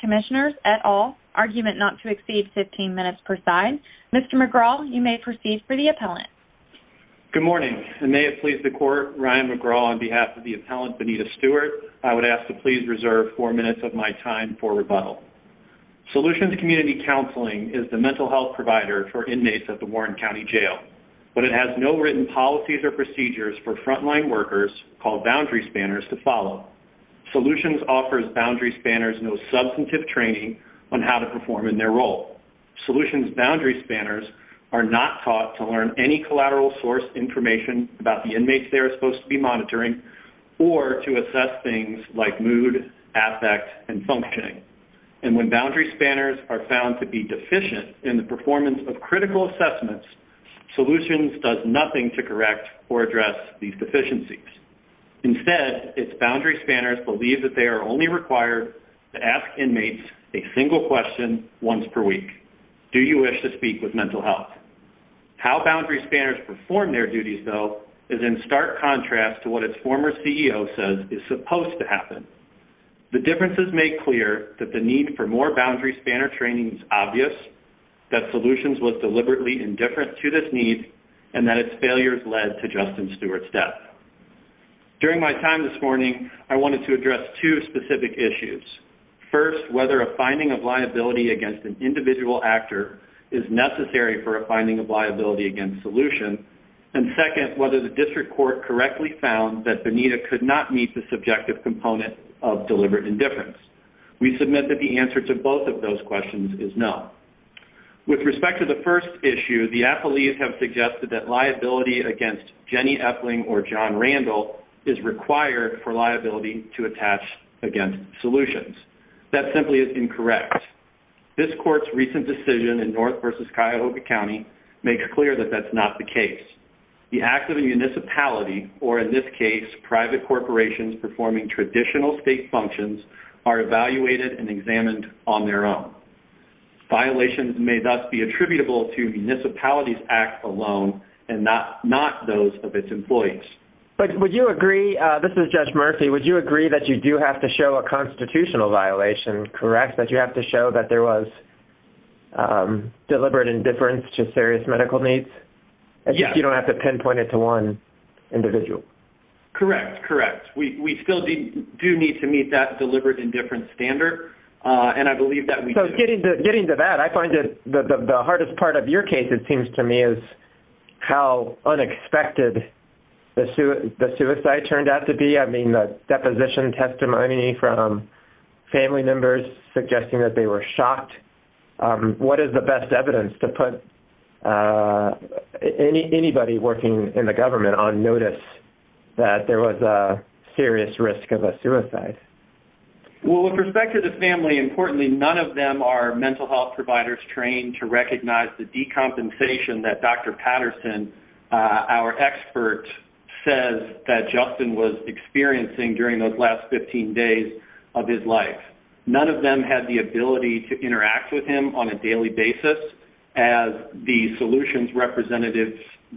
Commissioners at all, argument not to exceed 15 minutes per side. Mr. McGraw, you may proceed for the appellant. Good morning, and may it please the Court, Ryan McGraw on behalf of the appellant, Benita Stewart, I would ask to please reserve 4 minutes of my time for rebuttal. Solutions Community Counseling is the mental health provider for inmates at the Warren County Jail, but it has no written policies or procedures for frontline workers called Boundary Spanners to follow. Solutions offers Boundary Spanners no substantive training on how to perform in their role. Solutions Boundary Spanners are not taught to learn any collateral source information about the inmates they are supposed to be monitoring, or to assess things like mood, affect, and functioning. And when Boundary Spanners are found to be deficient in the field, it does nothing to correct or address these deficiencies. Instead, it's Boundary Spanners believe that they are only required to ask inmates a single question once per week. Do you wish to speak with mental health? How Boundary Spanners perform their duties, though, is in stark contrast to what its former CEO says is supposed to happen. The differences make clear that the need for more Boundary Spanner training is obvious, that Solutions was deliberately indifferent to this need, and that its failures led to Justin Stewart's death. During my time this morning, I wanted to address two specific issues. First, whether a finding of liability against an individual actor is necessary for a finding of liability against Solutions, and second, whether the district court correctly found that Benita could not meet the subjective component of deliberate indifference. We submit that the first issue, the appellees have suggested that liability against Jenny Epling or John Randall is required for liability to attach against Solutions. That simply is incorrect. This court's recent decision in North versus Cuyahoga County makes clear that that's not the case. The act of a municipality, or in this case, private corporations performing traditional state functions, are evaluated and examined on their own. Violations may thus be attributable to municipalities act alone, and not those of its employees. But would you agree, this is Judge Murphy, would you agree that you do have to show a constitutional violation, correct? That you have to show that there was deliberate indifference to serious medical needs, and you don't have to pinpoint it to one individual? Correct, correct. We still do need to meet that deliberate indifference standard, and I believe that we do. Getting to that, I find that the hardest part of your case, it seems to me, is how unexpected the suicide turned out to be. I mean, the deposition testimony from family members suggesting that they were shot. What is the best evidence to put anybody working in the government on notice that there was a serious risk of a suicide? Well, with respect to the family, importantly, none of them are mental health providers trained to recognize the decompensation that Dr. Patterson, our expert, says that Justin was experiencing during those last 15 days of his life. None of them had the ability to interact with him on a daily basis, as the solutions representatives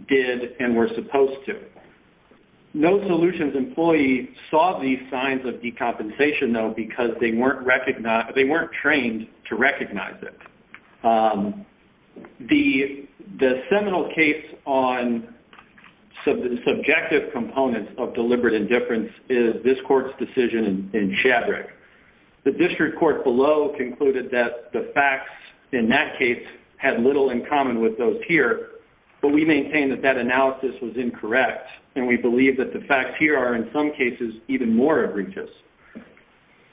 did, and were supposed to. No solutions employee saw these signs of decompensation, though, because they weren't trained to recognize it. The seminal case on subjective components of deliberate indifference is this court's decision in Shadrack. The district court below concluded that the facts in that case had little in common with those here, but we maintain that that analysis was incorrect, and we believe that the facts here are, in some cases, even more egregious.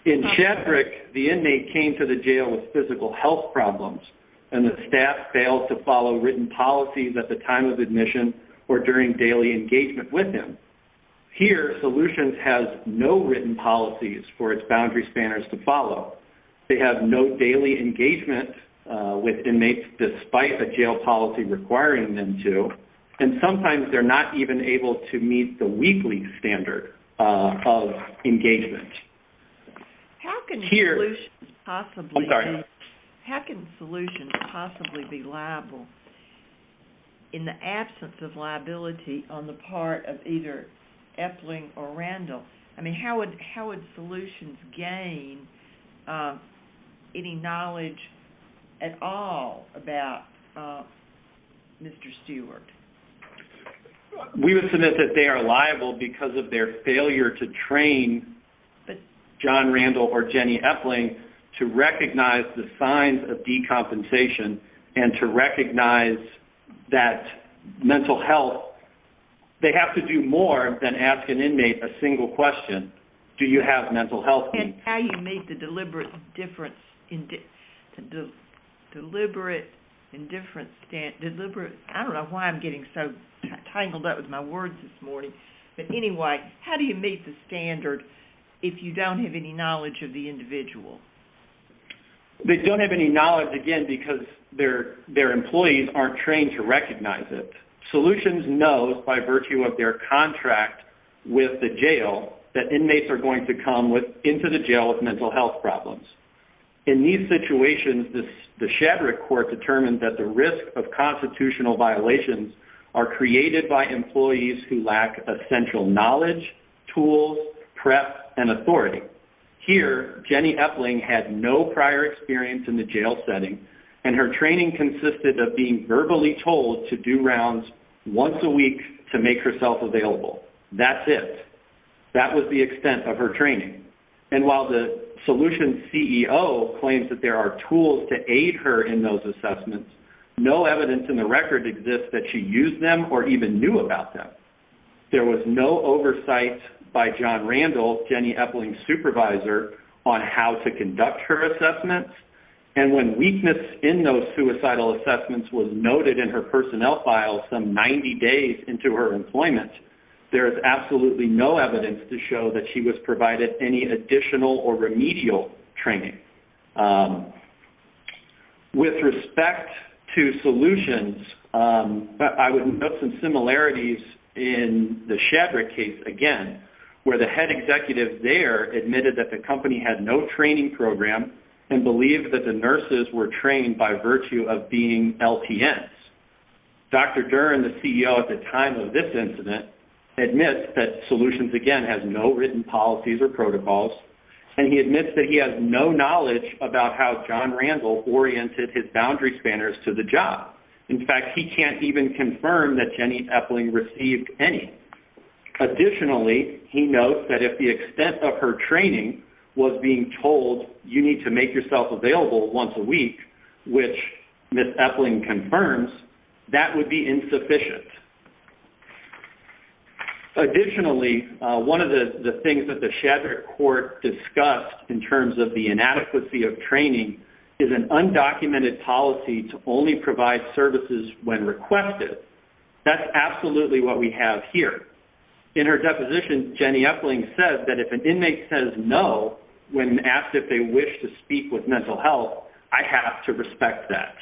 In Shadrack, the inmate came to the jail with physical health problems, and the staff failed to follow written policies at the time of admission or during daily engagement with him. Here, solutions has no written policies for its boundary spanners to follow. They have no daily engagement with inmates despite a jail policy requiring them to, and sometimes they're not even able to meet the weekly standard of engagement. How can solutions possibly be liable in the absence of liability on the part of either Epling or Randall? I mean, how would solutions gain any knowledge at all about Mr. Stewart? We would submit that they are liable because of their failure to train John Randall or Jenny Epling to recognize the signs of decompensation and to recognize that mental health, they have to do more than ask an inmate a single question, do you have mental health needs? And how you make the deliberate indifference, deliberate, I don't know why I'm doing so tangled up with my words this morning, but anyway, how do you meet the standard if you don't have any knowledge of the individual? They don't have any knowledge, again, because their employees aren't trained to recognize it. Solutions knows by virtue of their contract with the jail that inmates are going to come into the jail with mental health problems. In these situations, the Shadrick Court determined that the risk of constitutional violations are created by employees who lack essential knowledge, tools, prep, and authority. Here, Jenny Epling had no prior experience in the jail setting and her training consisted of being verbally told to do rounds once a week to make herself available. That's it. That was the extent of her training. And while the Solutions CEO claims that there are tools to aid her in those assessments, no evidence in the record exists that she used them or even knew about them. There was no oversight by John Randall, Jenny Epling's supervisor, on how to conduct her assessments. And when weakness in those suicidal assessments was noted in her personnel file some 90 days into her employment, there is absolutely no evidence to show that she was provided any additional or remedial training. With respect to Solutions, I would note some similarities in the Shadrick case, again, where the head executive there admitted that the company had no training program and believed that the nurses were trained by virtue of being LPS. Dr. Dern, the CEO at the time of this incident, admits that Solutions, again, has no written policies or protocols and he admits that he has no knowledge about how John Randall oriented his boundary spanners to the job. In fact, he can't even confirm that Jenny Epling received any. Additionally, he notes that if the extent of her training was being told, you need to make yourself available once a week, which Ms. Epling confirms, that would be insufficient. Additionally, one of the things that the Shadrick court discussed in terms of the inadequacy of training is an undocumented policy to only provide services when requested. That's absolutely what we have here. In her deposition, Jenny Epling says that if an inmate says no when asked if they wish to speak with mental health, I have to respect that.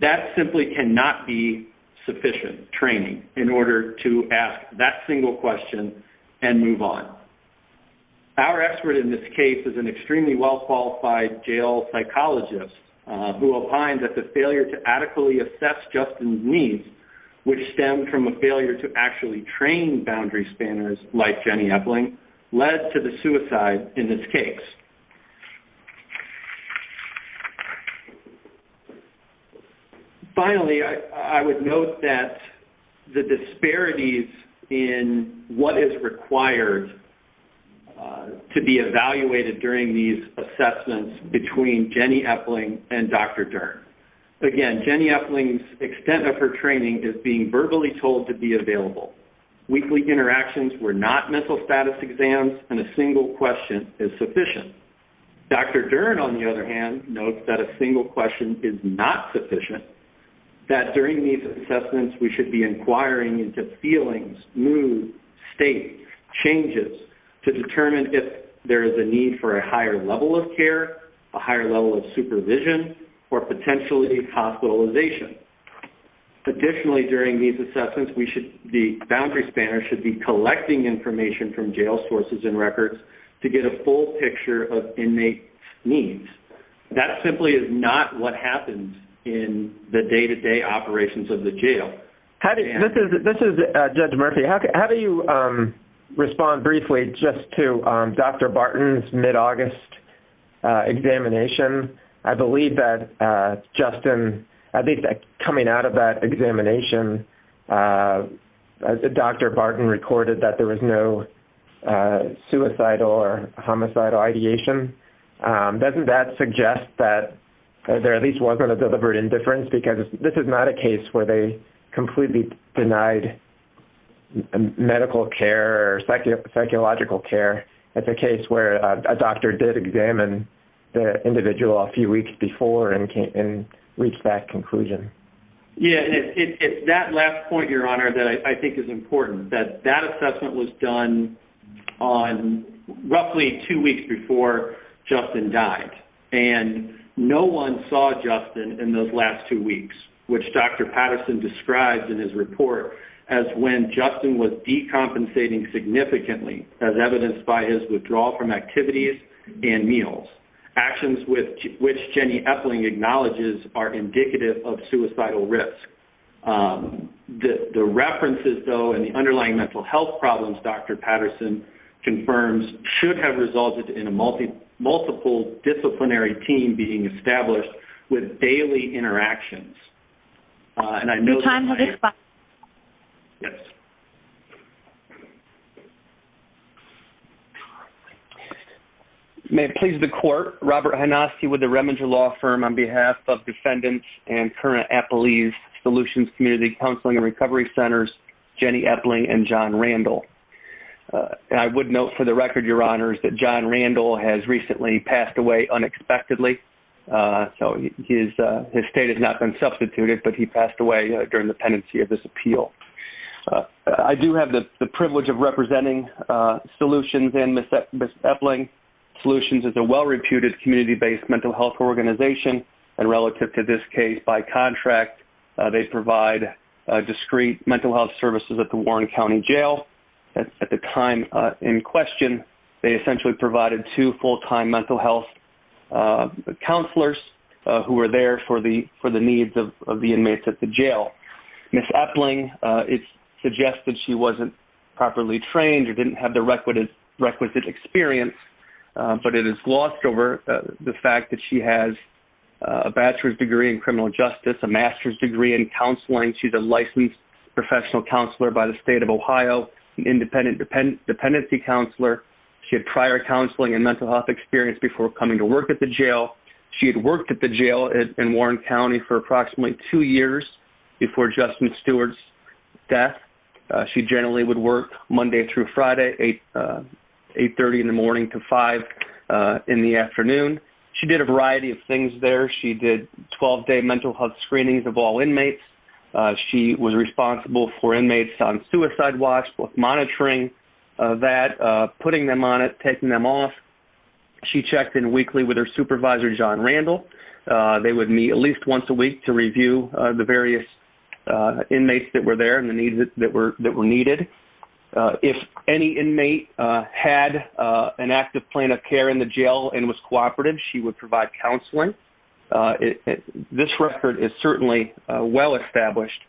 That simply cannot be sufficient training in order to ask that single question and move on. Our expert in this case is an extremely well-qualified jail psychologist who opined that the failure to adequately assess Justin's needs, which stemmed from a failure to actually train boundary spanners like Jenny Epling, led to the suicide in this case. Finally, I would note that the disparities in what is required to be evaluated during these assessments between Jenny Epling and Dr. Dern. Again, Jenny Epling's extent of her training is being verbally told to be available. Weekly interactions were not mental health status exams and a single question is sufficient. Dr. Dern, on the other hand, notes that a single question is not sufficient, that during these assessments we should be inquiring into feelings, mood, state, changes to determine if there is a need for a higher level of care, a higher level of supervision, or potentially hospitalization. Additionally, during these assessments, the boundary spanner should be collecting information from jail sources and records to get a full picture of inmate needs. That simply is not what happens in the day-to-day operations of the jail. This is Judge Murphy. How do you respond briefly just to Dr. Barton's mid-August examination? I believe that Justin, at least coming out of that examination, Dr. Barton recorded that there was no suicidal or homicidal ideation. Doesn't that suggest that there at least wasn't a deliberate indifference because this is not a case where they completely denied medical care or psychological care. It's a case where a doctor did examine the individual a few weeks before and reached that conclusion. Yeah, and it's that last point, Your Honor, that I think is important, that that assessment was done on roughly two weeks before Justin died. And no one saw Justin in those last two weeks, which Dr. Patterson described in his report as when Justin was decompensating significantly as evidenced by his withdrawal from activities and meals. Actions with which Jenny Epling acknowledges are indicative of suicidal risk. The references, though, and the underlying mental health problems Dr. Patterson confirms should have resulted in a multiple disciplinary team being established with daily interactions. Your time has expired. May it please the Court, Robert Hanoski with the Reminger Law Firm on behalf of defendants and current Epley's Solutions Community Counseling and Recovery Centers, Jenny Epling and John Randall. I would note for the record, Your Honors, that John Randall has recently passed away unexpectedly. So his state has not been substituted, but he passed away during the pendency of this appeal. I do have the privilege of representing Solutions and Ms. Epling. Solutions is a well-reputed community-based mental health organization, and relative to this case, by contract, they provide discrete mental health services at the Warren County Jail. At the time in question, they essentially provided two full-time mental health counselors who were there for the needs of the inmates at the jail. Ms. Epling, it's suggested she wasn't properly trained or didn't have the requisite experience, but it is glossed over the fact that she has a bachelor's degree in criminal justice, a master's degree in Ohio, an independent dependency counselor. She had prior counseling and mental health experience before coming to work at the jail. She had worked at the jail in Warren County for approximately two years before Justin Stewart's death. She generally would work Monday through Friday, 8.30 in the morning to 5.00 in the afternoon. She did a variety of things there. She did 12-day mental health screenings of all inmates. She was responsible for inmates on suicide watch, monitoring that, putting them on it, taking them off. She checked in weekly with her supervisor, John Randall. They would meet at least once a week to review the various inmates that were there and the needs that were needed. If any inmate had an active plan of care in the jail and was cooperative, she would provide counseling. This record is certainly well-established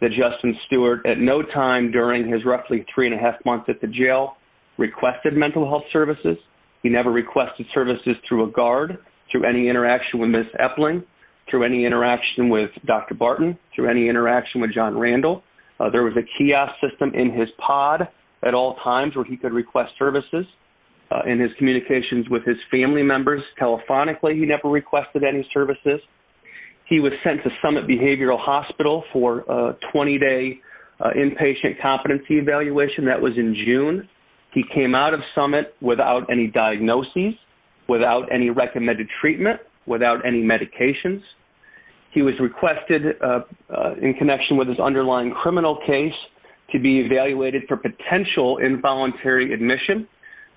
that Justin Stewart at no time during his roughly three-and-a-half months at the jail requested mental health services. He never requested services through a guard, through any interaction with Ms. Epling, through any interaction with Dr. Barton, through any interaction with John Randall. There was a kiosk system in his pod at all times where he could request services. In his communications with his family members, telephonically, he never requested any services. He was sent to Summit Behavioral Hospital for a 20-day inpatient competency evaluation. That was in June. He came out of Summit without any diagnoses, without any recommended treatment, without any medications. He was requested, in connection with his underlying criminal case, to be evaluated for potential involuntary admission.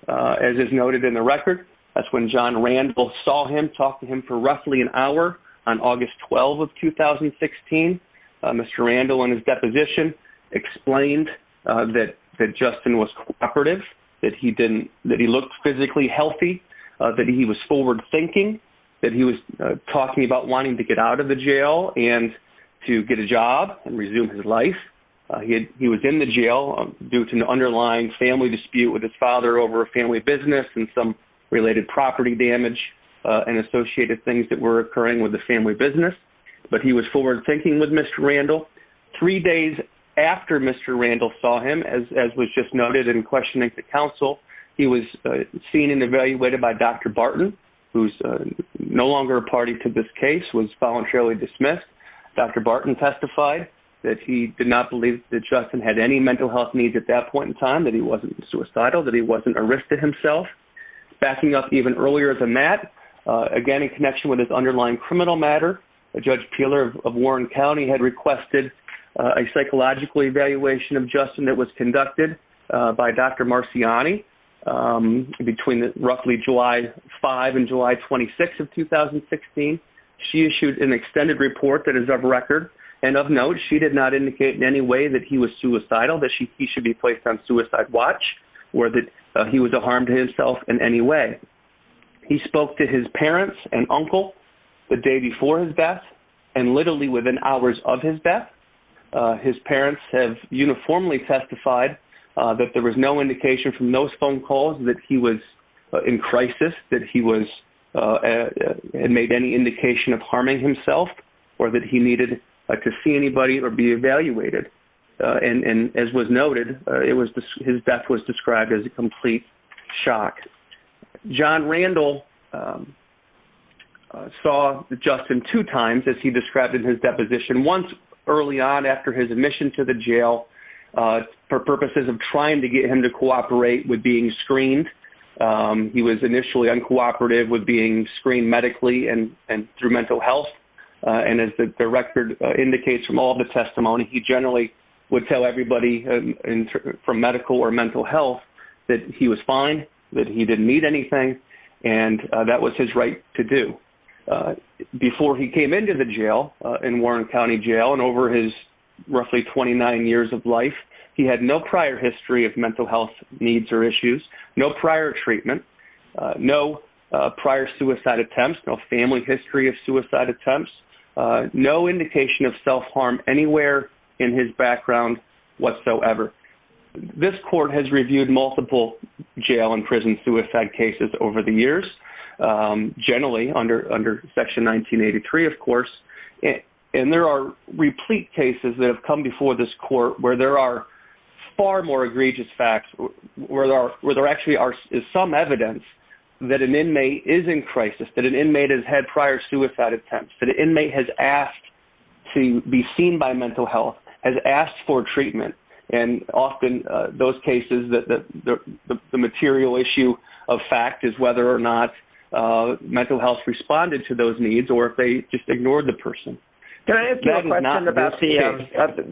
As is noted in the record, that's when John Randall saw him, talked to him for roughly an hour on August 12 of 2016. Mr. Randall, in his deposition, explained that Justin was cooperative, that he looked physically healthy, that he was forward-thinking, that he was talking about wanting to get out of the jail and to get a job and resume his life. He was in the jail due to an underlying family dispute with his father over a family business and some related property damage and associated things that were occurring with the family business. But he was forward-thinking with Mr. Randall. Three days after Mr. Randall saw him, as was just noted in questioning the counsel, he was seen and evaluated by Dr. Barton, who's no longer a party to this case, was voluntarily dismissed. Dr. Barton testified that he did not believe that Justin had any mental health needs at that point in time, that he wasn't suicidal, that he wasn't a risk to himself. Backing up even earlier than that, again, in connection with his underlying criminal matter, Judge Peeler of Warren County had requested a psychological evaluation of Justin that was conducted by Dr. Marciani between roughly July 5 and July 26 of 2016. She issued an extended report that is of record, and of note, she did not indicate in any way that he was suicidal, that he should be placed on suicide watch, or that he was a harm to himself in any way. He spoke to his parents and uncle the day before his death, and literally within hours of his death, his parents have uniformly testified that there was no indication from those phone calls that he was in crisis, that he was, and made any indication of harming himself, or that he needed to see anybody or be evaluated. And as was noted, his death was described as a complete shock. John Randall saw Justin two times, as he described in his deposition, once early on after his admission to the jail for purposes of trying to get him to cooperate with being screened. He was initially uncooperative with being screened medically and through mental health, and as the record indicates from all the testimony, he generally would tell everybody from medical or mental health that he was fine, that he didn't need anything, and that was his right to do. Before he came into the jail, in Warren County Jail, and over his roughly 29 years of life, he had no prior history of mental health needs or issues, no prior treatment, no prior suicide attempts, no family history of suicide attempts, no indication of self-harm anywhere in his background whatsoever. This court has reviewed multiple jail and prison suicide cases over the years, generally under Section 1983, of course, and there are replete cases that have come before this court where there are far more egregious facts, where there actually is some evidence that an inmate is in crisis, that an inmate has had prior suicide attempts, that an inmate has asked to be seen by mental health, has asked for treatment, and often those cases, the material issue of fact is whether or not mental health responded to those needs or if they just ignored the person. Can I ask you a question about the,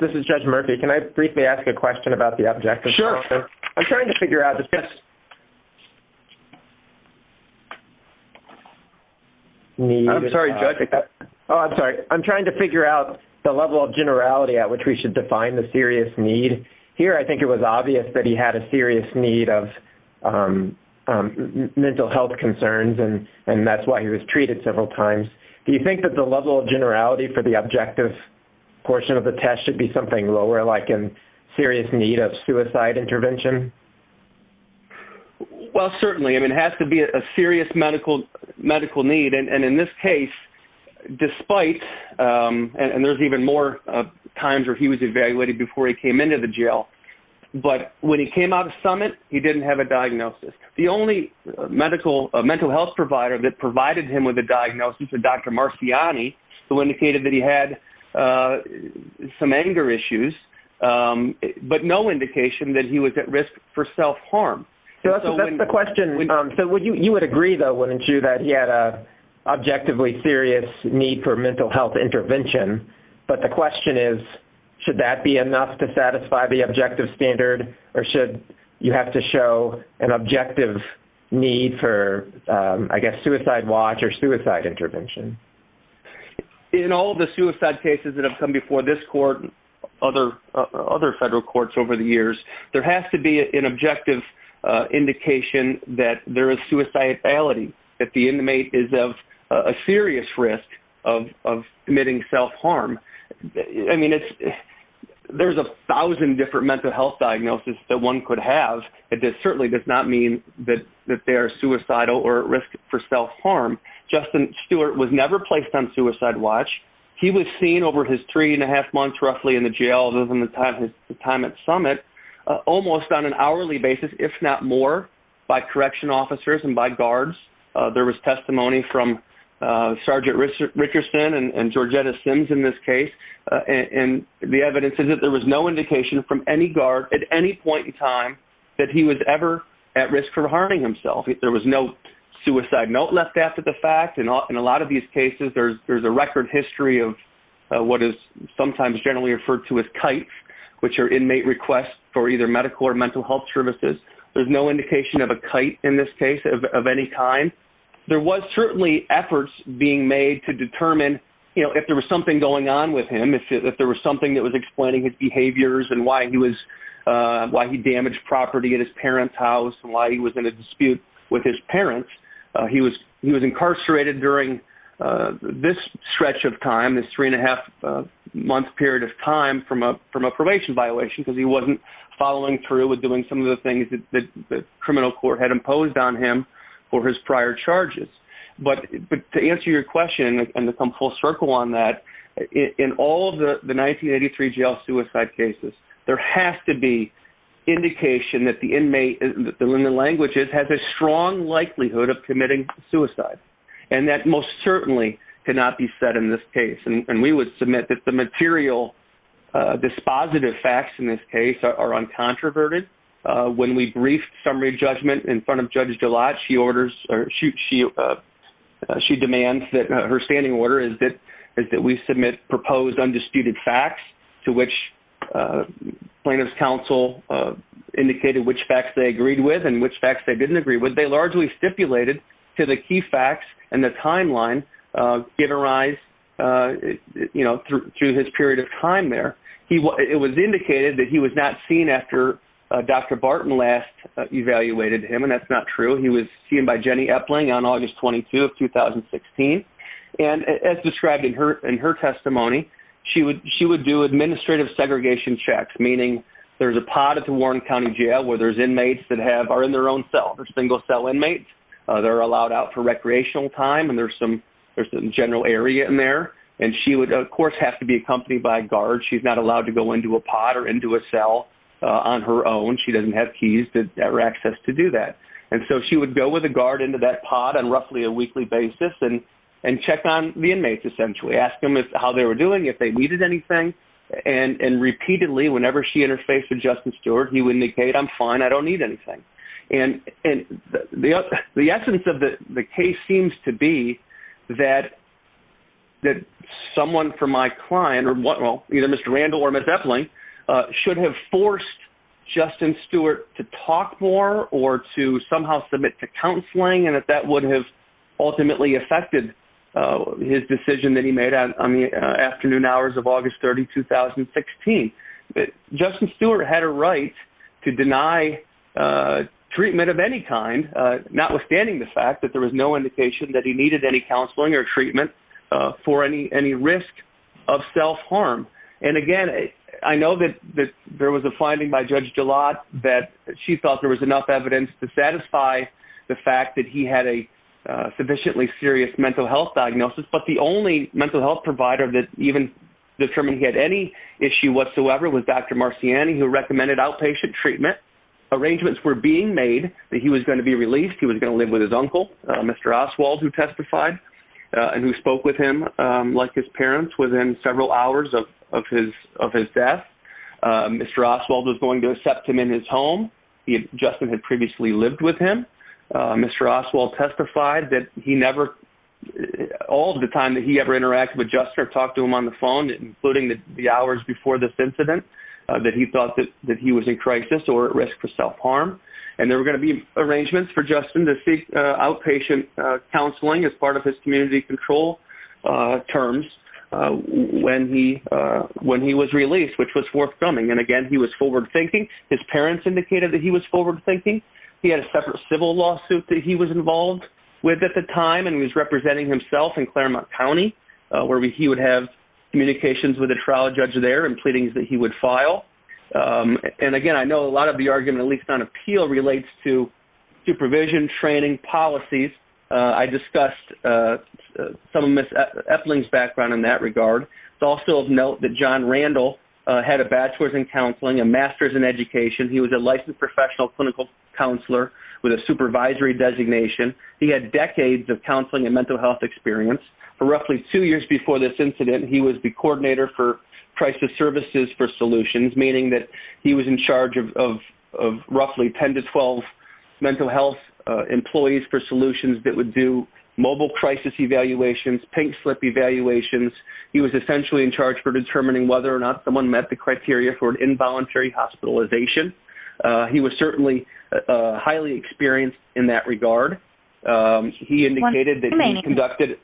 this is Judge Murphy, can I briefly ask a question about the objective? I'm trying to figure out the level of generality at which we should define the serious need. Here I think it was obvious that he had a serious need of mental health concerns and that's why he was treated several times. Do you think that the level of generality for the objective portion of the test should be something lower like a serious need of suicide intervention? Well, certainly. I mean, it has to be a serious medical need and in this case, despite, and there's even more times where he was evaluated before he came into the jail, but when he came out of Summit, he didn't have a diagnosis. The only medical, mental health provider that provided him with a diagnosis was Dr. Marciani, who indicated that he had some anger issues, but no indication that he was at risk for self-harm. So that's the question. So you would agree though, wouldn't you, that he had an objectively serious need for mental health intervention, but the question is, should that be enough to satisfy the objective standard or should you have to show an objective need for, I guess, suicide watch or suicide intervention? In all the suicide cases that have come before this court, other federal courts over the years, there has to be an objective indication that there is suicidality, that the inmate is of a serious risk of committing self-harm. I mean, there's a thousand different mental health diagnoses that one could have. It certainly does not mean that they are suicidal or at risk for self-harm. Justin Stewart was never placed on suicide watch. He was seen over his three and a half months roughly in the jail, other than the time at Summit, almost on an hourly basis, if not more, by correction officers and by guards. There was testimony from Sergeant Richardson and Georgetta Sims in this case, and the evidence is that there was no indication from any guard at any point in time that he was ever at risk for harming himself. There was no suicide note left after the fact. In a lot of these cases, there's a record history of what is sometimes generally referred to as KITES, which are inmate requests for either medical or mental health services. There's no indication of a KITE in this case of any kind. There was certainly efforts being made to determine if there was something going on with him, if there was something that was explaining his behaviors and why he damaged property at his parents' house and why he was in a dispute with his parents. He was incarcerated during this stretch of time, this three and a half month period of time from a probation violation, because he wasn't following through with doing some of the things that the criminal court had imposed on him for his prior charges. To answer your question and to come full circle on that, in all of the 1983 jail suicide cases, there has to be indication that the inmate, in the languages, has a strong likelihood of committing suicide. That most certainly cannot be said in this case. We would submit that the material dispositive facts in this case are uncontroverted. When we briefed summary judgment in front of Judge Gillotte, she demands that her standing order is that we submit proposed undisputed facts to which plaintiff's counsel indicated which facts they agreed with and which facts they didn't agree with. They largely stipulated to the key facts and the timeline given rise through his period of time there. It was indicated that he was not seen after Dr. Barton last evaluated him, and that's not true. He was seen by Jenny Epling on August 22 of 2016. As described in her testimony, she would do administrative segregation checks, meaning there's a pod at the Warren County Jail where there's inmates that are in their own cell. They're single cell inmates. They're allowed out for recreational time, and there's some general area in there. And she would, of course, have to be accompanied by a guard. She's not allowed to go into a pod or into a cell on her own. She doesn't have keys or access to do that. And so she would go with a guard into that pod on roughly a weekly basis and check on the inmates, essentially, ask them how they were doing, if they needed anything. And repeatedly, whenever she interfaced with Justice Stewart, he would indicate, I'm fine, I don't need anything. And the essence of the case seems to be that someone from my client, either Mr. Randall or Ms. Epling, should have forced Justice Stewart to talk more or to somehow submit to counseling, and that that would have ultimately affected his decision that he made on the afternoon hours of August 30, 2016. Justice Stewart had a right to deny treatment of any kind, notwithstanding the fact that there was no indication that he needed any counseling or treatment for any risk of self-harm. And again, I know that there was a finding by Judge Gillotte that she thought there was enough evidence to satisfy the fact that he had a sufficiently serious mental health diagnosis, but the only mental health provider that even determined he had any issue whatsoever was Dr. Marciani, who recommended outpatient treatment. Arrangements were being made that he was going to be released, he was going to live with his uncle, Mr. Oswald, who testified and who spoke with him like his parents within several hours of his death. Mr. Oswald was going to accept him in his home. Justin had previously lived with him. Mr. Oswald testified that he never, all of the time that he ever interacted with Justin or talked to him on the phone, including the hours before this incident, that he thought that he was in crisis or at risk for self-harm. And there were going to be arrangements for Justin to seek outpatient counseling as part of his community control terms when he was released, which was forthcoming. And again, he was forward-thinking. His parents indicated that he was forward-thinking. He had a separate civil lawsuit that he was involved with at the time and was representing himself in Claremont County, where he would have communications with a trial judge there and pleadings that he would file. And again, I know a lot of the argument, at least on appeal, relates to supervision, training, policies. I discussed some of Ms. Epling's background in that regard. It's also of note that John Randall had a bachelor's in counseling, a master's in education. He was a licensed professional clinical counselor with a supervisory designation. He had decades of counseling and mental health experience. For roughly two years before this incident, he was the coordinator for crisis services for solutions, meaning that he was in charge of roughly 10 to 12 mental health employees for solutions that would do mobile crisis evaluations, pink slip evaluations. He was essentially in charge for determining whether or not someone met the criteria for involuntary hospitalization. He was certainly highly experienced in that regard. He indicated that he conducted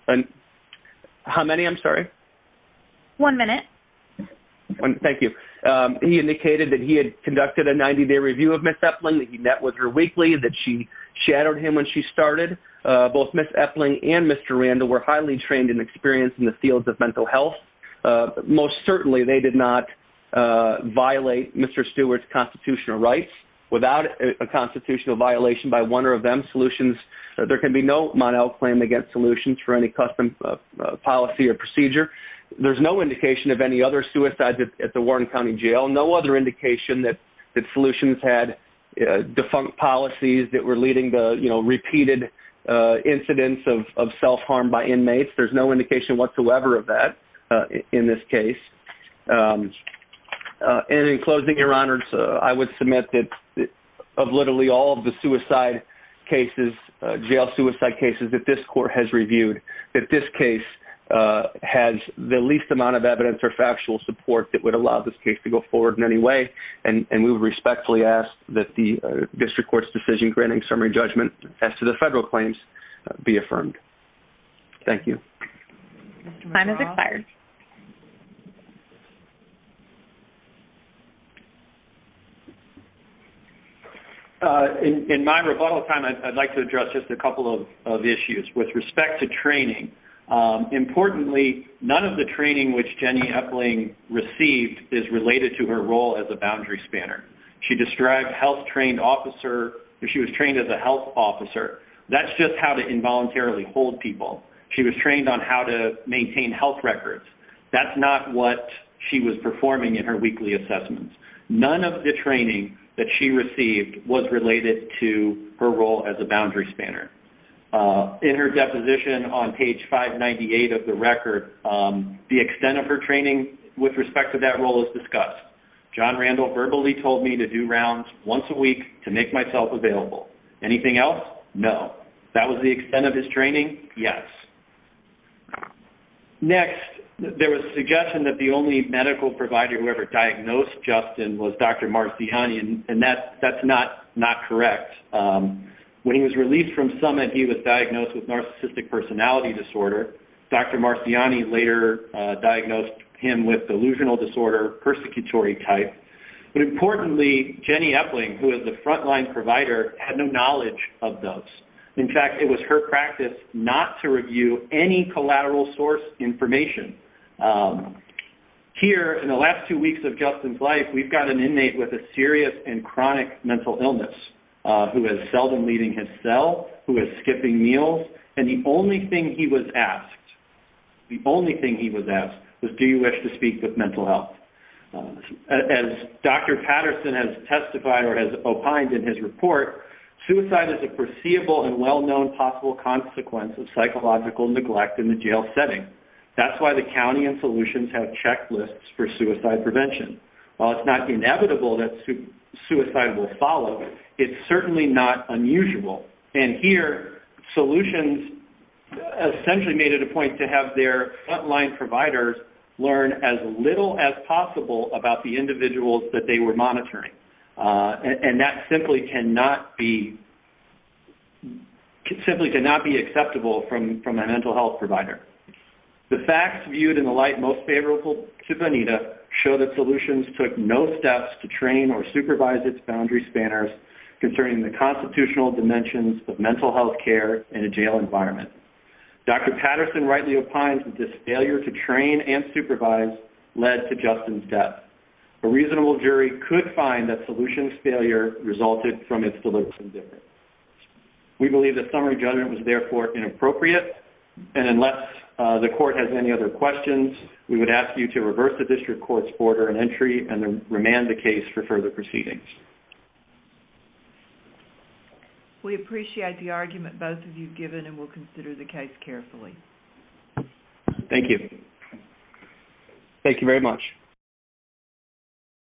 a 90-day review of Ms. Epling, that he met with her weekly, that she shadowed him when she started. Both Ms. Epling and Mr. Randall were highly trained and experienced in the fields of mental health. Most certainly, they did not violate Mr. Stewart's constitutional rights without a constitutional violation by one or of them. There can be no model claim against solutions for any custom policy or procedure. There's no indication of any other suicides at the Warren County Jail, no other indication that solutions had defunct policies that were leading to repeated incidents of self-harm by inmates. There's no indication whatsoever of that in this case. In closing, Your Honors, I would submit that of literally all of the jail suicide cases that this court has reviewed, that this case has the least amount of evidence or factual support that would allow this case to go forward in any way, and we would respectfully ask that the district court's decision granting summary judgment as to the federal claims be affirmed. Thank you. Time has expired. In my rebuttal time, I'd like to address just a couple of issues with respect to training. Importantly, none of the training which Jenny Epling received is related to her role as a boundary spanner. She described health trained officer, she was trained as a health officer. That's just how to involuntarily hold people. She was trained on how to maintain health records. That's not what she was performing in her weekly assessments. None of the training that she received was related to her role as a boundary spanner. In her deposition on page 598 of the record, the extent of her training with respect to that role is discussed. John Randall verbally told me to do rounds once a week to make myself available. Anything else? No. That was the extent of his training? Yes. Next, there was suggestion that the only medical provider who ever diagnosed Justin was Dr. Marciani, and that's not correct. When he was released from summit, he was diagnosed with narcissistic personality disorder. Dr. Marciani later diagnosed him with delusional disorder, persecutory type. But importantly, Jenny Epling, who is the frontline provider, had no knowledge of those. In fact, it was her practice not to review any collateral source information. Here, in the last two weeks of Justin's life, we've got an inmate with a serious and chronic mental illness who is seldom leaving his cell, who is skipping meals, and the only thing he was asked, the only thing he was asked was, do you wish to speak with mental health? As Dr. Patterson has testified or has opined in his report, suicide is a perceivable and well-known possible consequence of psychological neglect in the jail setting. That's why the county and solutions have checklists for suicide prevention. While it's not inevitable that suicide will follow, it's certainly not unusual. Here, solutions essentially made it a point to have their frontline providers learn as little as possible about the individuals that they were monitoring. That simply cannot be acceptable from a mental health provider. The facts viewed in the light most favorable to Bonita show that solutions took no steps to train or supervise its boundary spanners concerning the constitutional dimensions of mental health care in a jail environment. Dr. Patterson rightly opines that this failure to train and supervise led to Justin's death. A reasonable jury could find that solutions failure resulted from its delivery. We believe that summary judgment was therefore inappropriate, and unless the court has any other questions, we would ask you to reverse the district court's order of entry and remand the case for further proceedings. We appreciate the argument both of you have given and will consider the case carefully. Thank you. Thank you very much.